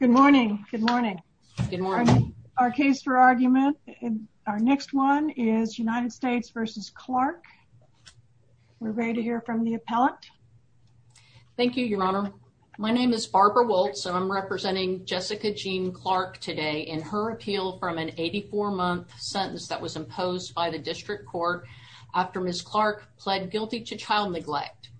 Good morning. Good morning. Our case for argument in our next one is United States v. Clark. We're ready to hear from the appellant. Thank you, Your Honor. My name is Barbara Woltz, and I'm representing Jessica Jean Clark today in her appeal from an 84-month sentence that was imposed by the district court after Ms. Clark pled guilty to child neglect.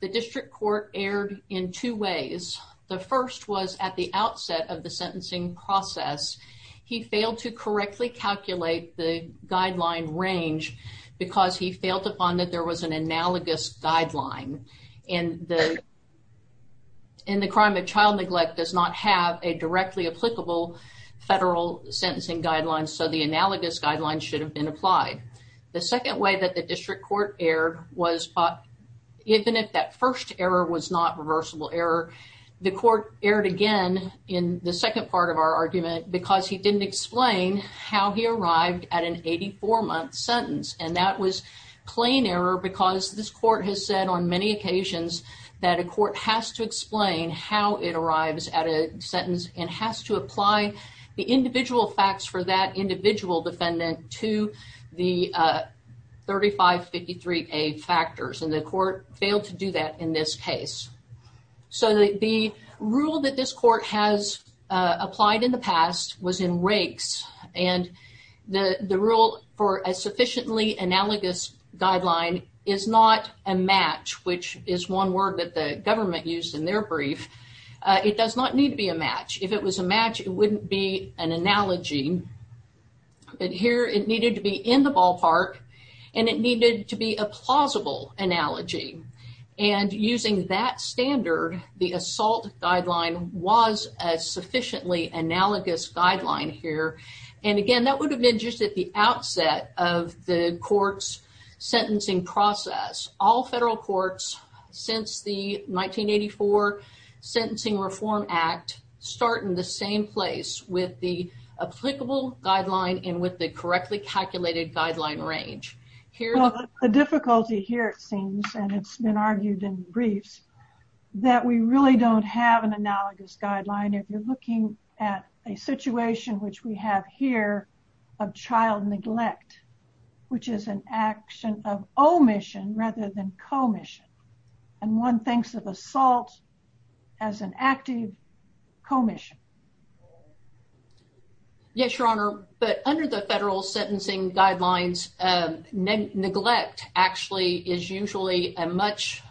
The district court erred in two ways. The first was at the outset of the sentencing process, he failed to correctly calculate the guideline range because he failed to find that there was an analogous guideline. And the crime of child neglect does not have a directly applicable federal sentencing guideline, so the analogous guideline should have been applied. The second way that the district court erred was even if that first error was not reversible error, the court erred again in the second part of our argument because he didn't explain how he arrived at an 84-month sentence. And that was plain error because this court has said on many occasions that a court has to explain how it arrives at a sentence and has to apply the individual facts for that individual defendant to the 3553A factors, and the court failed to do that in this case. So the rule that this court has applied in the past was in rakes, and the rule for a sufficiently analogous guideline is not a match, which is one word that the government used in their brief. It does not need to be a match. If it was a match, it wouldn't be an analogy, but here it needed to be in the ballpark and it needed to be a plausible analogy. And using that standard, the assault guideline was a sufficiently analogous guideline here, and again that would have been just at the outset of the court's sentencing process. All federal courts since the Sentencing Reform Act start in the same place with the applicable guideline and with the correctly calculated guideline range. The difficulty here it seems, and it's been argued in briefs, that we really don't have an analogous guideline. If you're looking at a situation which we have here of child neglect, which is an action of omission rather than commission, and one thinks of assault as an active commission. Yes, Your Honor, but under the federal sentencing guidelines, neglect actually is usually a much,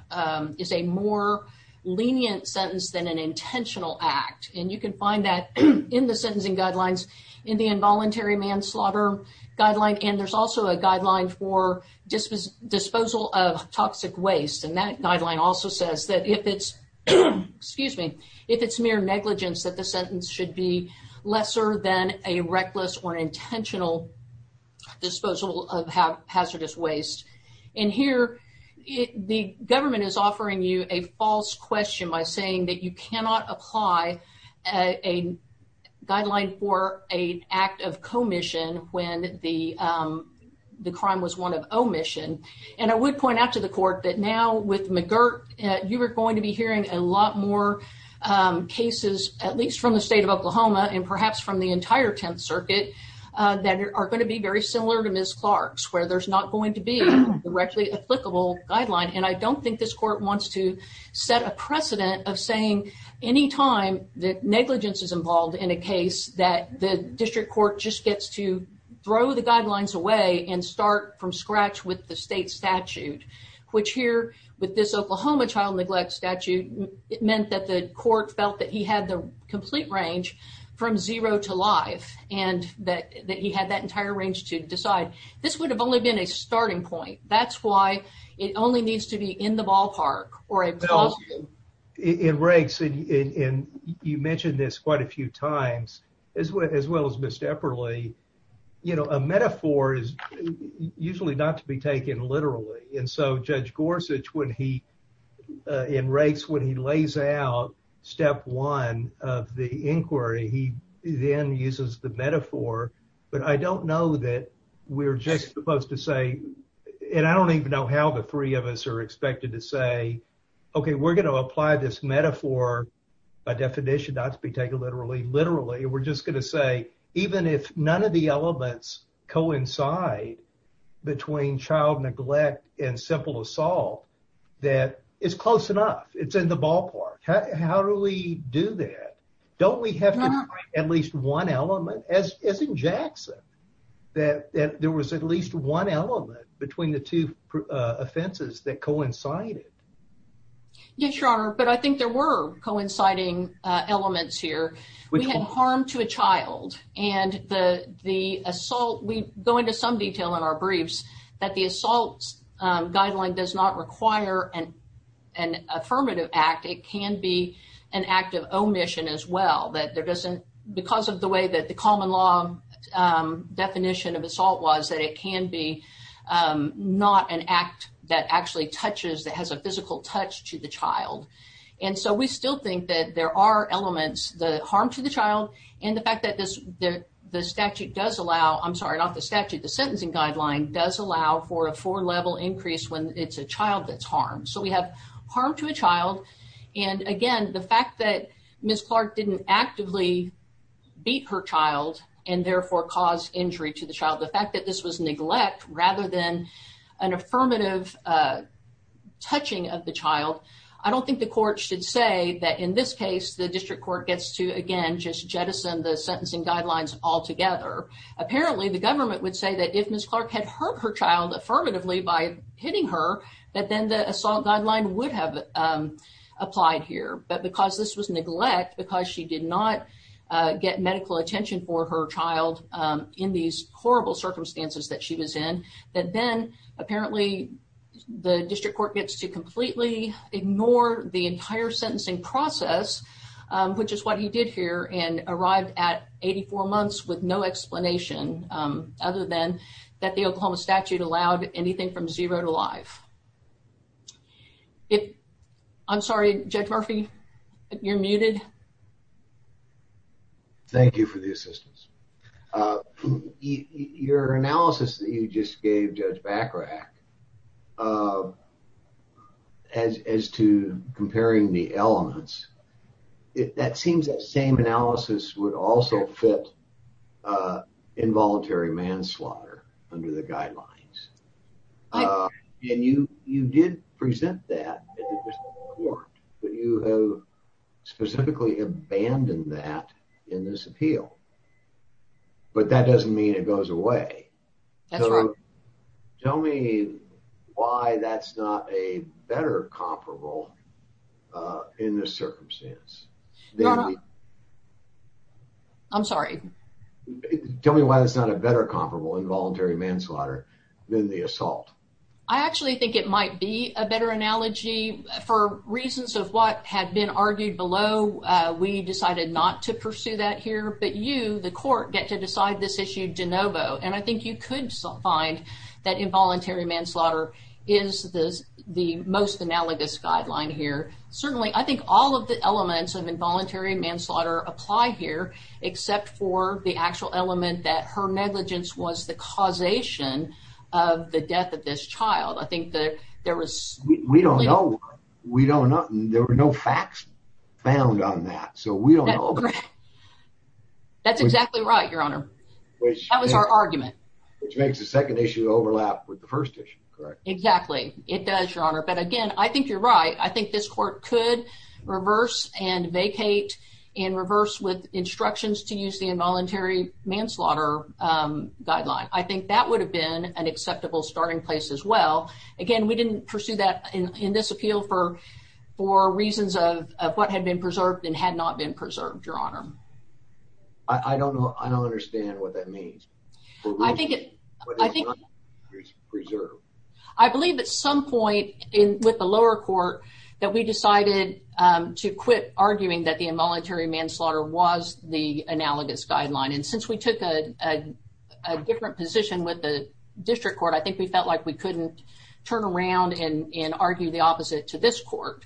is a more lenient sentence than an intentional act, and you can find that in the sentencing guidelines in the involuntary manslaughter guideline, and there's also a guideline for disposal of toxic waste, and that guideline also says that if it's, excuse me, if it's mere negligence that the sentence should be lesser than a reckless or intentional disposal of hazardous waste. And here the government is offering you a false question by saying that you cannot apply a guideline for an act of commission when the crime was one of omission, and I would point out to the court that now with McGirt, you are going to be hearing a lot more cases, at least from the state of Oklahoma and perhaps from the entire Tenth Circuit, that are going to be very similar to Ms. Clark's, where there's not going to be a directly applicable guideline, and I don't think this court wants to set a precedent of saying any time that negligence is involved in a case that the district court just gets to throw the guidelines away and start from scratch with the state statute, which here with this Oklahoma child neglect statute, it meant that the court felt that he had the complete range from zero to life, and that he had that entire range to decide. This would have only been a starting point. That's why it only needs to be in the ballpark. In Rakes, and you mentioned this quite a few times, as well as Ms. Epperle, you know, a metaphor is usually not to be taken literally, and so Judge Gorsuch, when he, in Rakes, when he lays out step one of the inquiry, he then uses the metaphor, but I don't know that we're just supposed to say, and I don't even know how the three of us are expected to say, okay, we're going to apply this metaphor by definition, not to be taken literally. Literally, we're just going to say, even if none of the elements coincide between child neglect and simple assault, that it's close enough. It's in the ballpark. How do we do that? Don't we have to try at least one element, as in Jackson, that there was at least one element between the two offenses that coincided? Yes, Your Honor, but I think there were coinciding elements here. We had harm to a child, and the assault, we go into some detail in our briefs that the assault guideline does not require an affirmative act. It can be an act of omission, that there doesn't, because of the way that the common law definition of assault was, that it can be not an act that actually touches, that has a physical touch to the child. We still think that there are elements, the harm to the child, and the fact that the statute does allow, I'm sorry, not the statute, the sentencing guideline does allow for a four-level increase when it's a child that's harmed. So we have harm to a child, and again, the fact that Ms. Clark didn't actively beat her child and therefore cause injury to the child, the fact that this was neglect rather than an affirmative touching of the child, I don't think the court should say that in this case, the district court gets to, again, just jettison the sentencing guidelines altogether. Apparently, the government would say that if Ms. Clark had hurt her child affirmatively by hitting her, that then the assault guideline would have applied here. But because this was neglect, because she did not get medical attention for her child in these horrible circumstances that she was in, that then, apparently, the district court gets to completely ignore the entire sentencing process, which is what he did here, and arrived at 84 months with no explanation, other than that the Oklahoma statute allowed anything from zero to live. I'm sorry, Judge Murphy, you're muted. Thank you for the assistance. Your analysis that you just gave, Judge Bacharach, of as to comparing the elements, that seems that same analysis would also fit involuntary manslaughter under the guidelines. And you did present that in the district court, but you have specifically abandoned that in this appeal. But that doesn't mean it goes away. That's right. Tell me why that's not a better comparable in this circumstance. I'm sorry. Tell me why that's not a better comparable involuntary manslaughter than the assault. I actually think it might be a better analogy. For reasons of what had been argued below, we decided not to pursue that here. But you, the court, get to decide this issue de novo. I think you could find that involuntary manslaughter is the most analogous guideline here. Certainly, I think all of the elements of involuntary manslaughter apply here, except for the actual element that her negligence was the causation of the death of this child. We don't know. There were no facts found on that. We don't know. That's exactly right, Your Honor. That was our argument. Which makes the second issue overlap with the first issue, correct? Exactly. It does, Your Honor. But again, I think you're right. I think this court could reverse and vacate and reverse with instructions to use the involuntary manslaughter guideline. I think that would have been an acceptable starting place as well. Again, we didn't pursue that in this appeal for reasons of what had been preserved and had not been preserved, Your Honor. I don't understand what that means. I believe at some point with the lower court that we decided to quit arguing that the involuntary manslaughter was the analogous guideline. Since we took a different position with the district court, I think we felt like we couldn't turn around and argue the opposite to this court.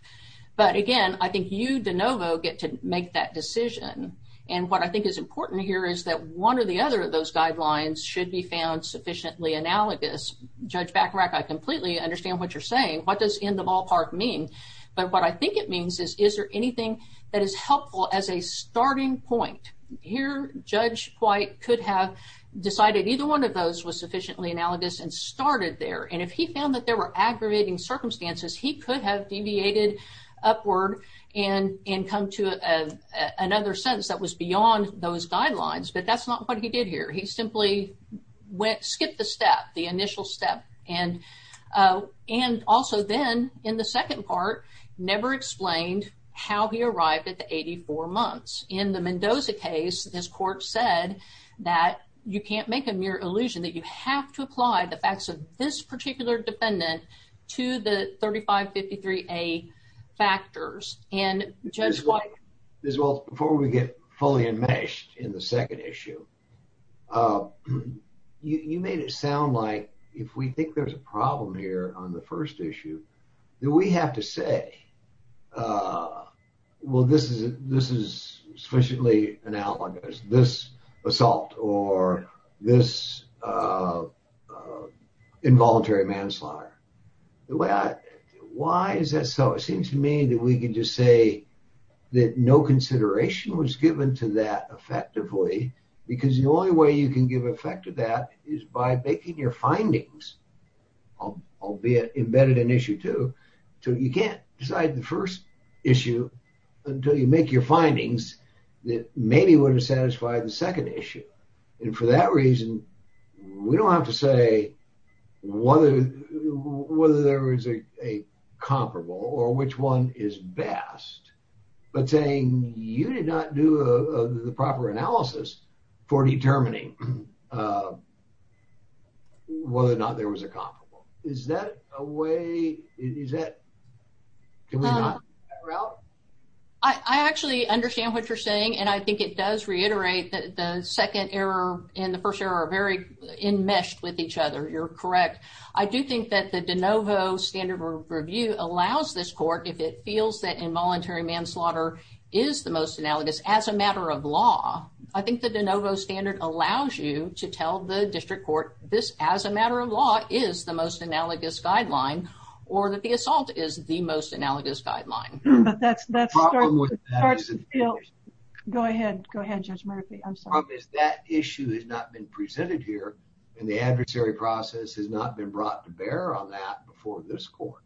But again, I think you, DeNovo, get to make that decision. And what I think is important here is that one or the other of those guidelines should be found sufficiently analogous. Judge Bacharach, I completely understand what you're saying. What does in the ballpark mean? But what I think it means is, is there anything that is helpful as a starting point? Here, Judge White could have decided either one of those was sufficiently analogous and started there. And if he found that there were aggravating circumstances, he could have deviated upward and come to another sentence that was beyond those guidelines. But that's not what he did here. He simply skipped the step, the initial step. And also then, in the second part, never explained how he arrived at the 84 months. In the Mendoza case, this court said that you can't make a mere illusion, that you have to apply the facts of this particular defendant to the 3553A factors. And Judge White... Judge White, before we get fully enmeshed in the second issue, you made it sound like if we think there's a problem here on the first issue, that we have to say, well, this is sufficiently analogous, this assault or this involuntary manslaughter. Why is that so? It seems to me that we can just say that no consideration was given to that effectively, because the only way you can give effect to that is by making your findings, albeit embedded in issue two. So you can't decide the first issue until you make your findings that maybe would have satisfied the second issue. And for that reason, we don't have to say whether there was a comparable or which one is best, but saying you did not do the proper analysis for determining whether or not there was a comparable. Is that a way... I actually understand what you're saying, and I think it does reiterate that the second error and the first error are very enmeshed with each other. You're correct. I do think that the de novo standard of review allows this court, if it feels that involuntary manslaughter is the most analogous as a matter of law, I think the de novo standard allows you to tell the district court this as a matter of law is the most analogous guideline, or that the assault is the most analogous guideline. But that's... Go ahead. Go ahead, Judge Murphy. That issue has not been presented here, and the adversary process has not been brought to bear on that before this court.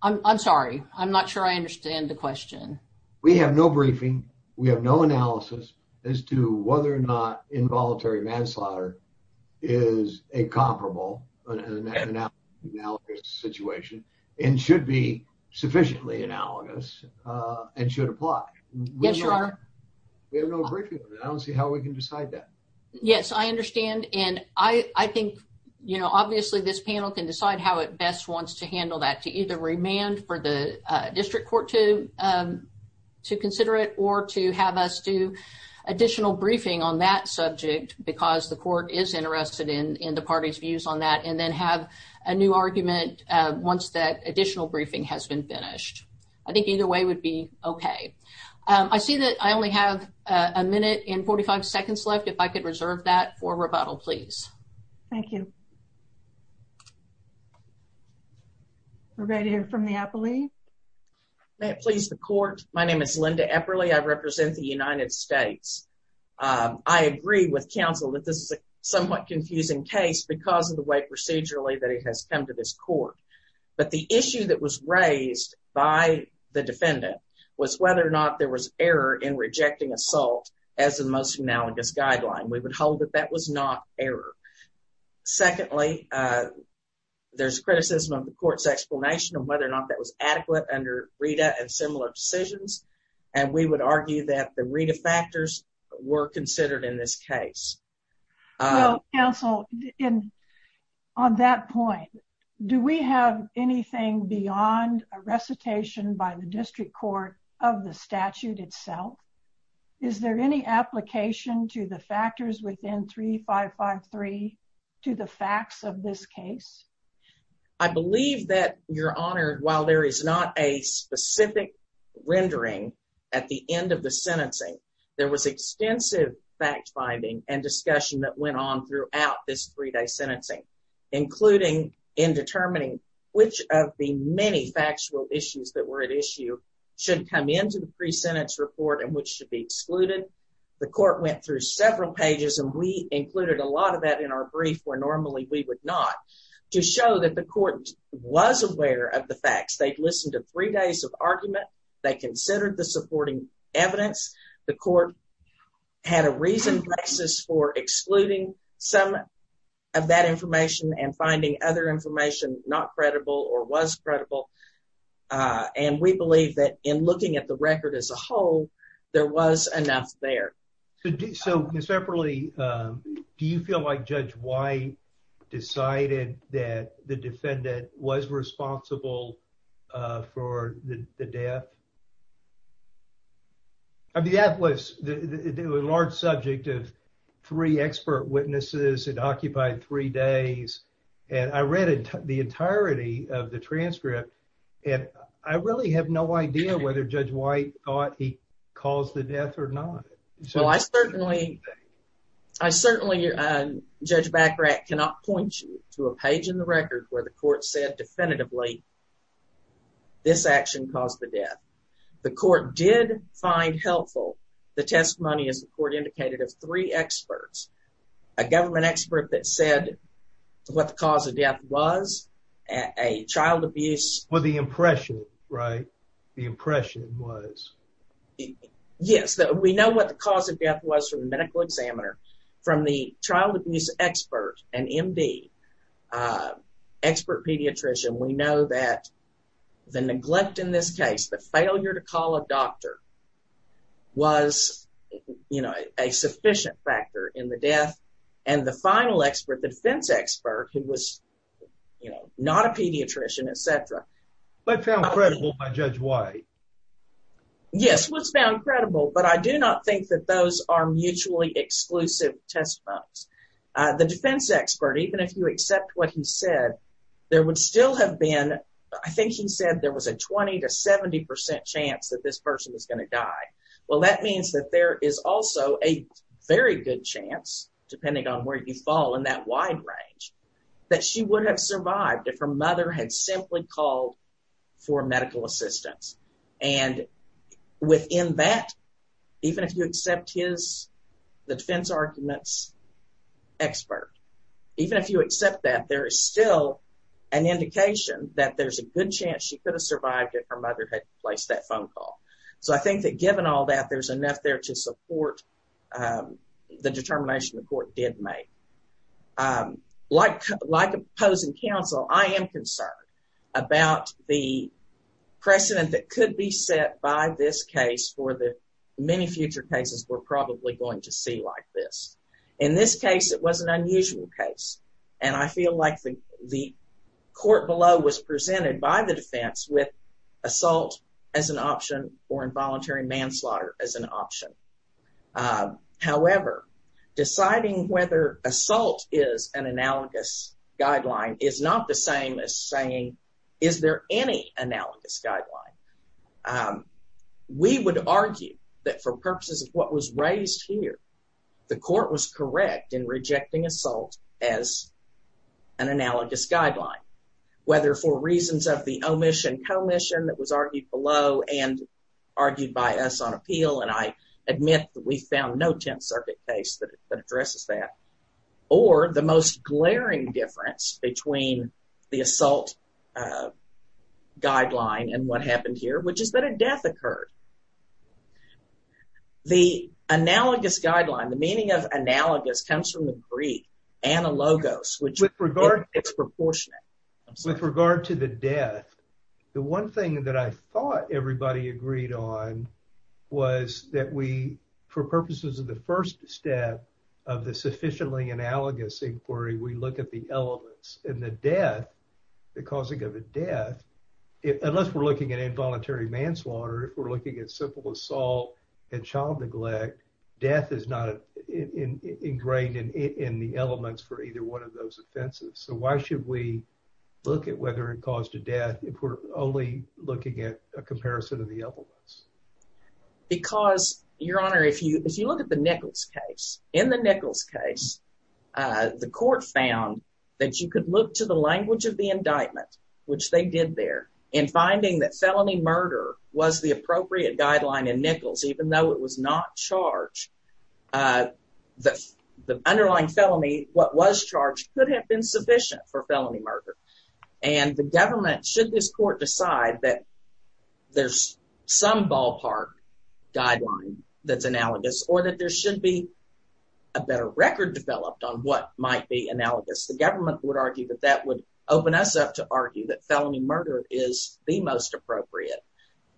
I'm sorry. I'm not sure I understand the question. We have no briefing. We have no analysis as to whether or not involuntary manslaughter is a comparable, an analogous situation, and should be sufficiently analogous and should apply. Yes, you are. We have no briefing on it. I don't see how we can decide that. Yes, I understand. And I think, obviously, this panel can decide how it best wants to handle that, to either remand for the district court to consider it, or to have us do additional briefing on that subject, because the court is interested in the party's views on that, and then have a new argument once that additional briefing has been finished. I think either way would be okay. I see that I only have a minute and 45 seconds left. If I could reserve that for rebuttal, please. Thank you. We're ready to hear from the Epperle. May it please the court. My name is Linda Epperle. I represent the United States. I agree with counsel that this is a somewhat confusing case because of the way procedurally that it has come to this court. But the issue that was raised by the would hold that that was not error. Secondly, there's criticism of the court's explanation of whether or not that was adequate under RETA and similar decisions. And we would argue that the RETA factors were considered in this case. Well, counsel, on that point, do we have anything beyond a recitation by the district court of the statute itself? Is there any application to the factors within 3553 to the facts of this case? I believe that, Your Honor, while there is not a specific rendering at the end of the sentencing, there was extensive fact finding and discussion that went on throughout this three-day sentencing, including in determining which of the many factual issues that were at issue should come into the pre-sentence report and which should be excluded. The court went through several pages, and we included a lot of that in our brief, where normally we would not, to show that the court was aware of the facts. They'd listened to three days of argument. They considered the supporting evidence. The court had a reason for excluding some of that information and finding other record as a whole. There was enough there. So, Ms. Epperle, do you feel like Judge White decided that the defendant was responsible for the death? I mean, that was a large subject of three expert witnesses. It occupied three days, and I read the entirety of the transcript, and I really have no idea whether Judge White thought he caused the death or not. Well, I certainly, Judge Bachrach cannot point you to a page in the record where the court said definitively this action caused the death. The court did find helpful the testimony, as the court indicated, of three experts, a government expert that said what the cause of death was, a child abuse... Well, the impression, right? The impression was... Yes, we know what the cause of death was from the medical examiner. From the child abuse expert, an MD, expert pediatrician, we know that the neglect in this case, the failure to call a doctor was a sufficient factor in the death, and the final expert, the defense expert, who was not a pediatrician, et cetera... But found credible by Judge White. Yes, was found credible, but I do not think that those are mutually exclusive testimonies. The defense expert, even if you accept what he said, there would still have been... I think he said there was a 20% to 70% chance that this person was going to die. Well, that means that there is also a very good chance, depending on where you fall in that wide range, that she would have survived if her mother had simply called for medical assistance. And within that, even if you accept the defense argument's expert, even if you accept that, there is still an indication that there's a good chance she could have survived if her mother had placed that phone call. So I think that given all that, there's enough there to support the determination the court did make. Like opposing counsel, I am concerned about the precedent that could be set by this case for the many future cases we're probably going to see like this. In this case, it was an unusual case, and I feel like the court below was presented by the defense with assault as an option or involuntary manslaughter as an option. However, deciding whether assault is an analogous guideline is not the same as saying, is there any analogous guideline? We would argue that for purposes of what was raised here, the court was correct in rejecting assault as an analogous guideline, whether for reasons of the omission commission that was argued below and argued by us on appeal, and I admit that we found no Tenth Circuit case that addresses that, or the most glaring difference between the assault guideline and what happened here, which is that a death occurred. The analogous guideline, the meaning of analogous comes from the Greek, analogos, which is proportionate. With regard to the death, the one thing that I thought everybody agreed on was that we, for purposes of the first step of the sufficiently analogous inquiry, we look at the elements and the death, the causing of a death, unless we're looking at involuntary manslaughter, if we're looking at simple assault and child neglect, death is not ingrained in the elements for either one of those offenses. So why should we look at whether it caused a death if we're only looking at a comparison of the elements? Because, Your Honor, if you look at the Nichols case, in the Nichols case, the court found that you could look to the language of the indictment, which they did there, and finding that felony murder was the appropriate guideline in Nichols, even though it was not charged, the underlying felony, what was charged, could have been sufficient for felony murder. And the government, should this court decide that there's some ballpark guideline that's analogous, or that there should be a better record developed on what might be analogous, the government would argue that that would open us up to argue that felony murder is the most appropriate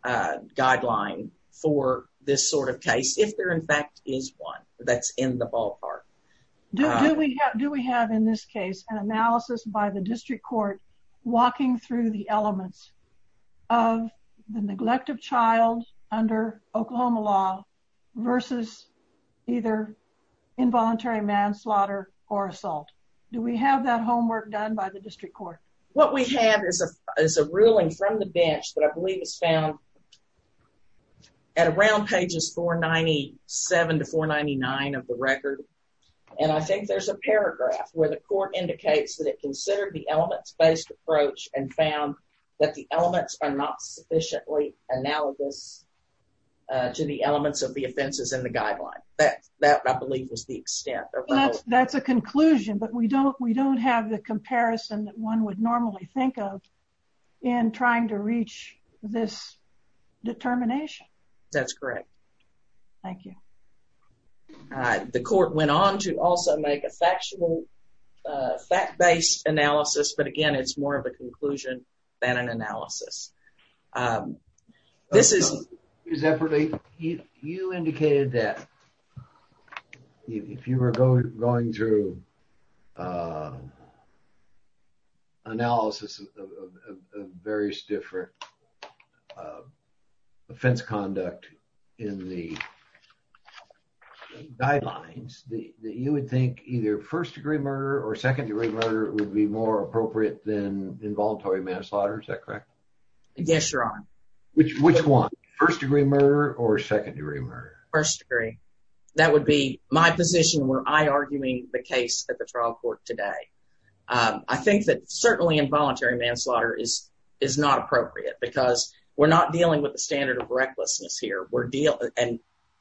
guideline for this sort of case, if there in fact is one that's in the ballpark. Do we have, in this case, an analysis by the district court walking through the elements of the neglect of child under Oklahoma law versus either involuntary manslaughter or assault? Do we have that homework done by the district court? What we have is a ruling from the bench that I believe is found at around pages 497 to 499 of the record, and I think there's a paragraph where the court indicates that it considered the elements-based approach and found that the elements are not sufficiently analogous to the elements of the offenses in the guideline. That, I believe, was the extent. That's a conclusion, but we don't have the comparison that one would normally think of in trying to reach this determination. That's correct. Thank you. The court went on to also make a factual, fact-based analysis, but again, it's more of a conclusion than an analysis. You indicated that if you were going through analysis of various different offense conduct in the guidelines, that you would think either first-degree murder or second-degree murder would be more appropriate than involuntary manslaughter. Is that correct? Yes, Your Honor. Which one? First-degree murder or second-degree murder? First-degree. That would be my position where I'm arguing the case at the trial court today. I think that certainly involuntary manslaughter is not appropriate because we're not dealing with the standard of recklessness here.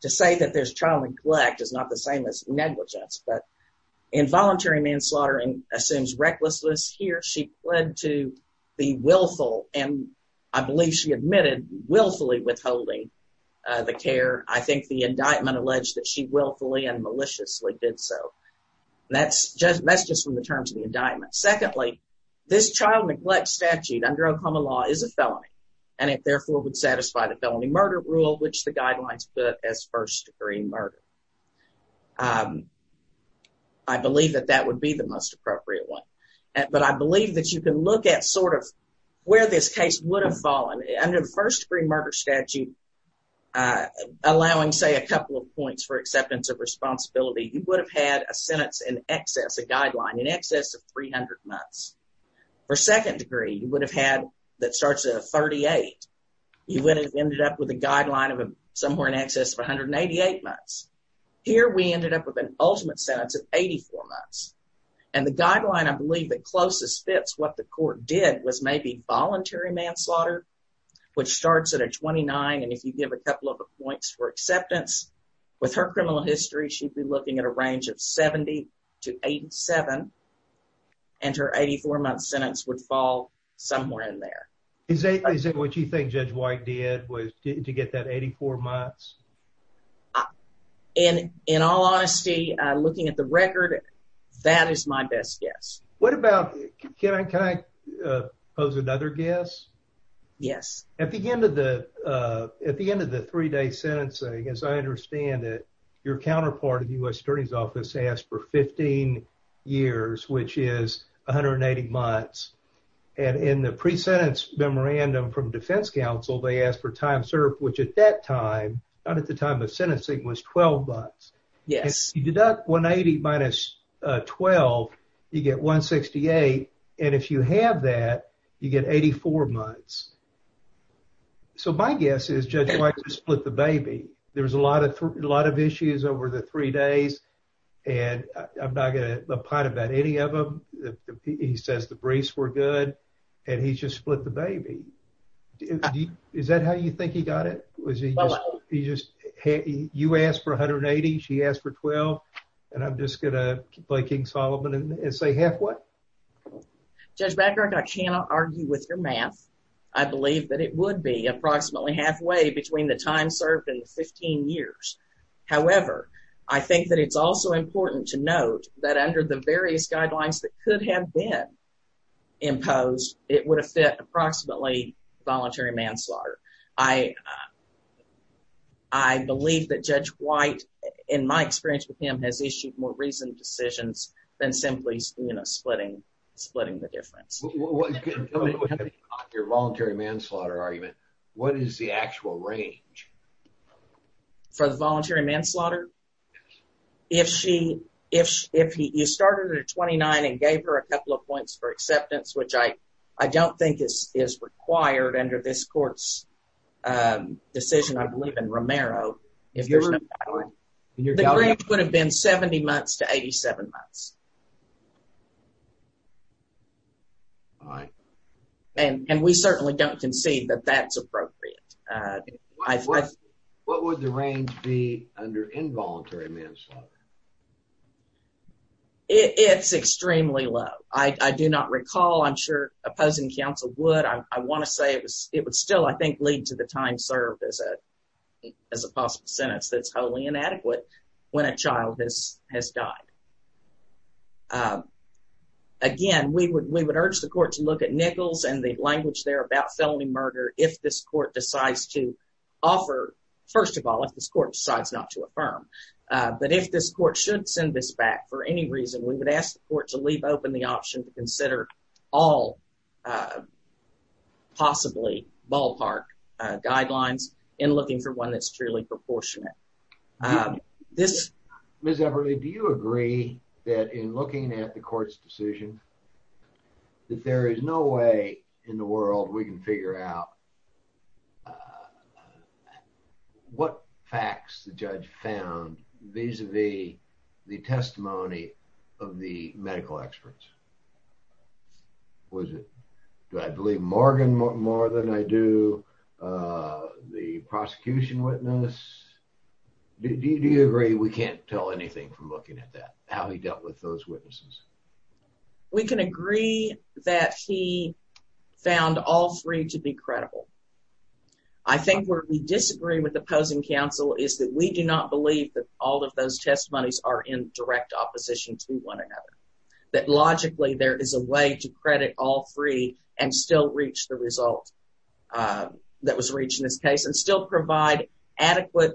To say that there's child neglect is not the same as negligence, but involuntary manslaughter assumes recklessness here. She pled to be willful, and I believe she admitted willfully withholding the care. I think the indictment alleged that she willfully and maliciously did so. That's just from the terms of the indictment. Secondly, this child neglect statute under Oklahoma law is a felony, and it therefore would satisfy the felony murder rule, which the guidelines put as first-degree murder. I believe that that would be the most appropriate one, but I believe that you can look at sort of where this case would have fallen. Under the first-degree murder statute, allowing, say, a couple of points for acceptance of responsibility, you would have had a sentence in excess, a guideline, in excess of 300 months. For second-degree, you ended up with a guideline of somewhere in excess of 188 months. Here, we ended up with an ultimate sentence of 84 months, and the guideline I believe that closest fits what the court did was maybe voluntary manslaughter, which starts at a 29, and if you give a couple of points for acceptance, with her criminal history, she'd be looking at a range of 70 to 87, and her 84-month sentence would fall somewhere in there. Is it what you think Judge White did was to get that 84 months? In all honesty, looking at the record, that is my best guess. What about, can I pose another guess? Yes. At the end of the three-day sentencing, as I understand it, your counterpart in the U.S. Attorney's Office asked for 15 years, which is 180 months, and in the pre-sentence memorandum from defense counsel, they asked for time served, which at that time, not at the time of sentencing, was 12 months. Yes. If you deduct 180 minus 12, you get 168, and if you have that, you get 84 months. So my guess is Judge White split the baby. There's a lot of issues over the three days, and I'm not going to pout about any of them. He says the briefs were good, and he just split the baby. Is that how you think he got it? You asked for 180, she asked for 12, and I'm just going to play King Solomon and say halfway? Judge Blackrock, I cannot argue with your math. I believe that it would be approximately halfway between the time served and the 15 years. However, I think that it's also important to note that under the various guidelines that could have been imposed, it would have fit approximately voluntary manslaughter. I believe that Judge White, in my experience with him, has issued more reasoned decisions than simply splitting the difference. Your voluntary manslaughter argument, what is the actual range? For the voluntary manslaughter? If you started at a 29 and gave her a couple of points for acceptance, which I don't think is required under this court's decision, I believe in Romero, the range would have been 70 months to 87 months. All right. And we certainly don't concede that that's appropriate. What would the range be under involuntary manslaughter? It's extremely low. I do not recall. I'm sure opposing counsel would. I want to say it would still, I think, lead to the time served as a possible sentence that's wholly inadequate when a child has died. Again, we would urge the court to look at Nichols and the language there about felony murder if this court decides to offer, first of all, if this court decides not to affirm. But if this court should send this back for any reason, we would ask the court to leave open the option to consider all possibly ballpark guidelines in looking for one that's really proportionate. Ms. Everly, do you agree that in looking at the court's decision that there is no way in the world we can figure out what facts the judge found vis-a-vis the testimony of the medical experts? Was it, do I believe Morgan more than I do the prosecution witness? Do you agree we can't tell anything from looking at that, how he dealt with those witnesses? We can agree that he found all three to be credible. I think where we disagree with opposing counsel is that we do not believe that all of those testimonies are in direct opposition to one another, that logically there is a way to credit all three and still reach the result that was reached in this case and still provide adequate,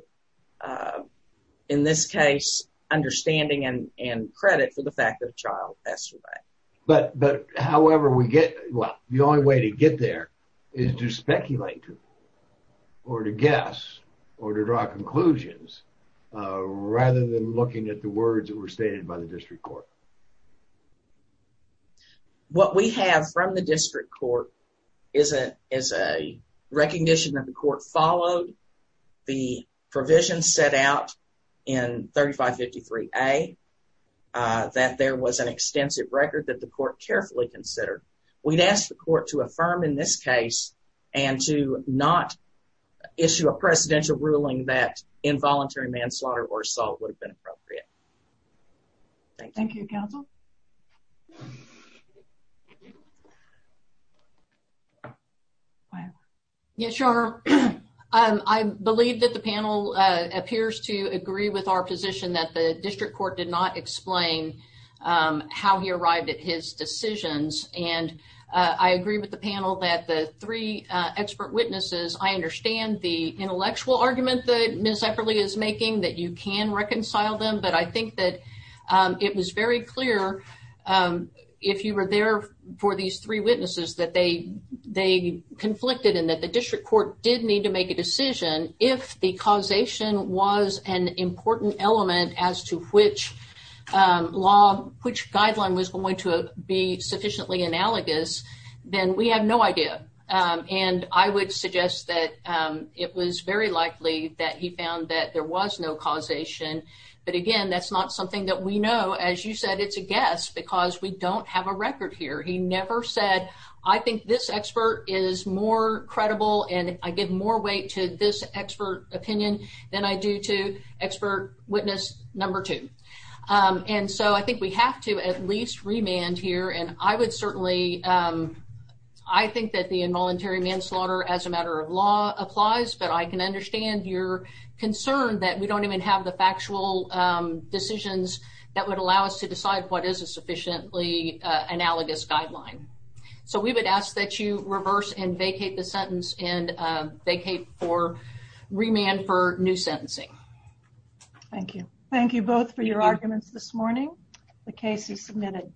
in this case, understanding and credit for the fact that a child passed away. But however we get, well, the only way to get there is to speculate or to guess or to draw conclusions rather than looking at the words that were stated by the district court. What we have from the district court is a recognition that the court followed the provisions set out in 3553A, that there was an extensive record that the court carefully considered. We'd ask the court to affirm in this case and to not issue a presidential ruling that involuntary manslaughter or assault would have been appropriate. Thank you, counsel. Yeah, sure. I believe that the panel appears to agree with our position that the district court did not explain how he arrived at his decisions. And I agree with the panel that the three expert witnesses, I understand the intellectual argument that Ms. Epperle is making that you can reconcile them, but I think that it was very clear if you were there for these three witnesses that they conflicted and that the district court did need to make a decision. If the causation was an important element as to which law, which guideline was going to be sufficiently analogous, then we have no idea. And I would suggest that it was very likely that he found that there was no causation. But again, that's not something that we know. As you said, it's a guess because we don't have a record here. He never said, I think this expert is more credible and I give more weight to this expert opinion than I do to expert witness number two. And so I think we have to at least remand here. And I would certainly, I think that the involuntary manslaughter as a matter of law applies, but I can understand your concern that we don't even have the factual decisions that would allow us to decide what is a sufficiently analogous guideline. So we would ask that you reverse and vacate the sentence and vacate for remand for new sentencing. Thank you. Thank you both for your arguments this morning. The case is submitted.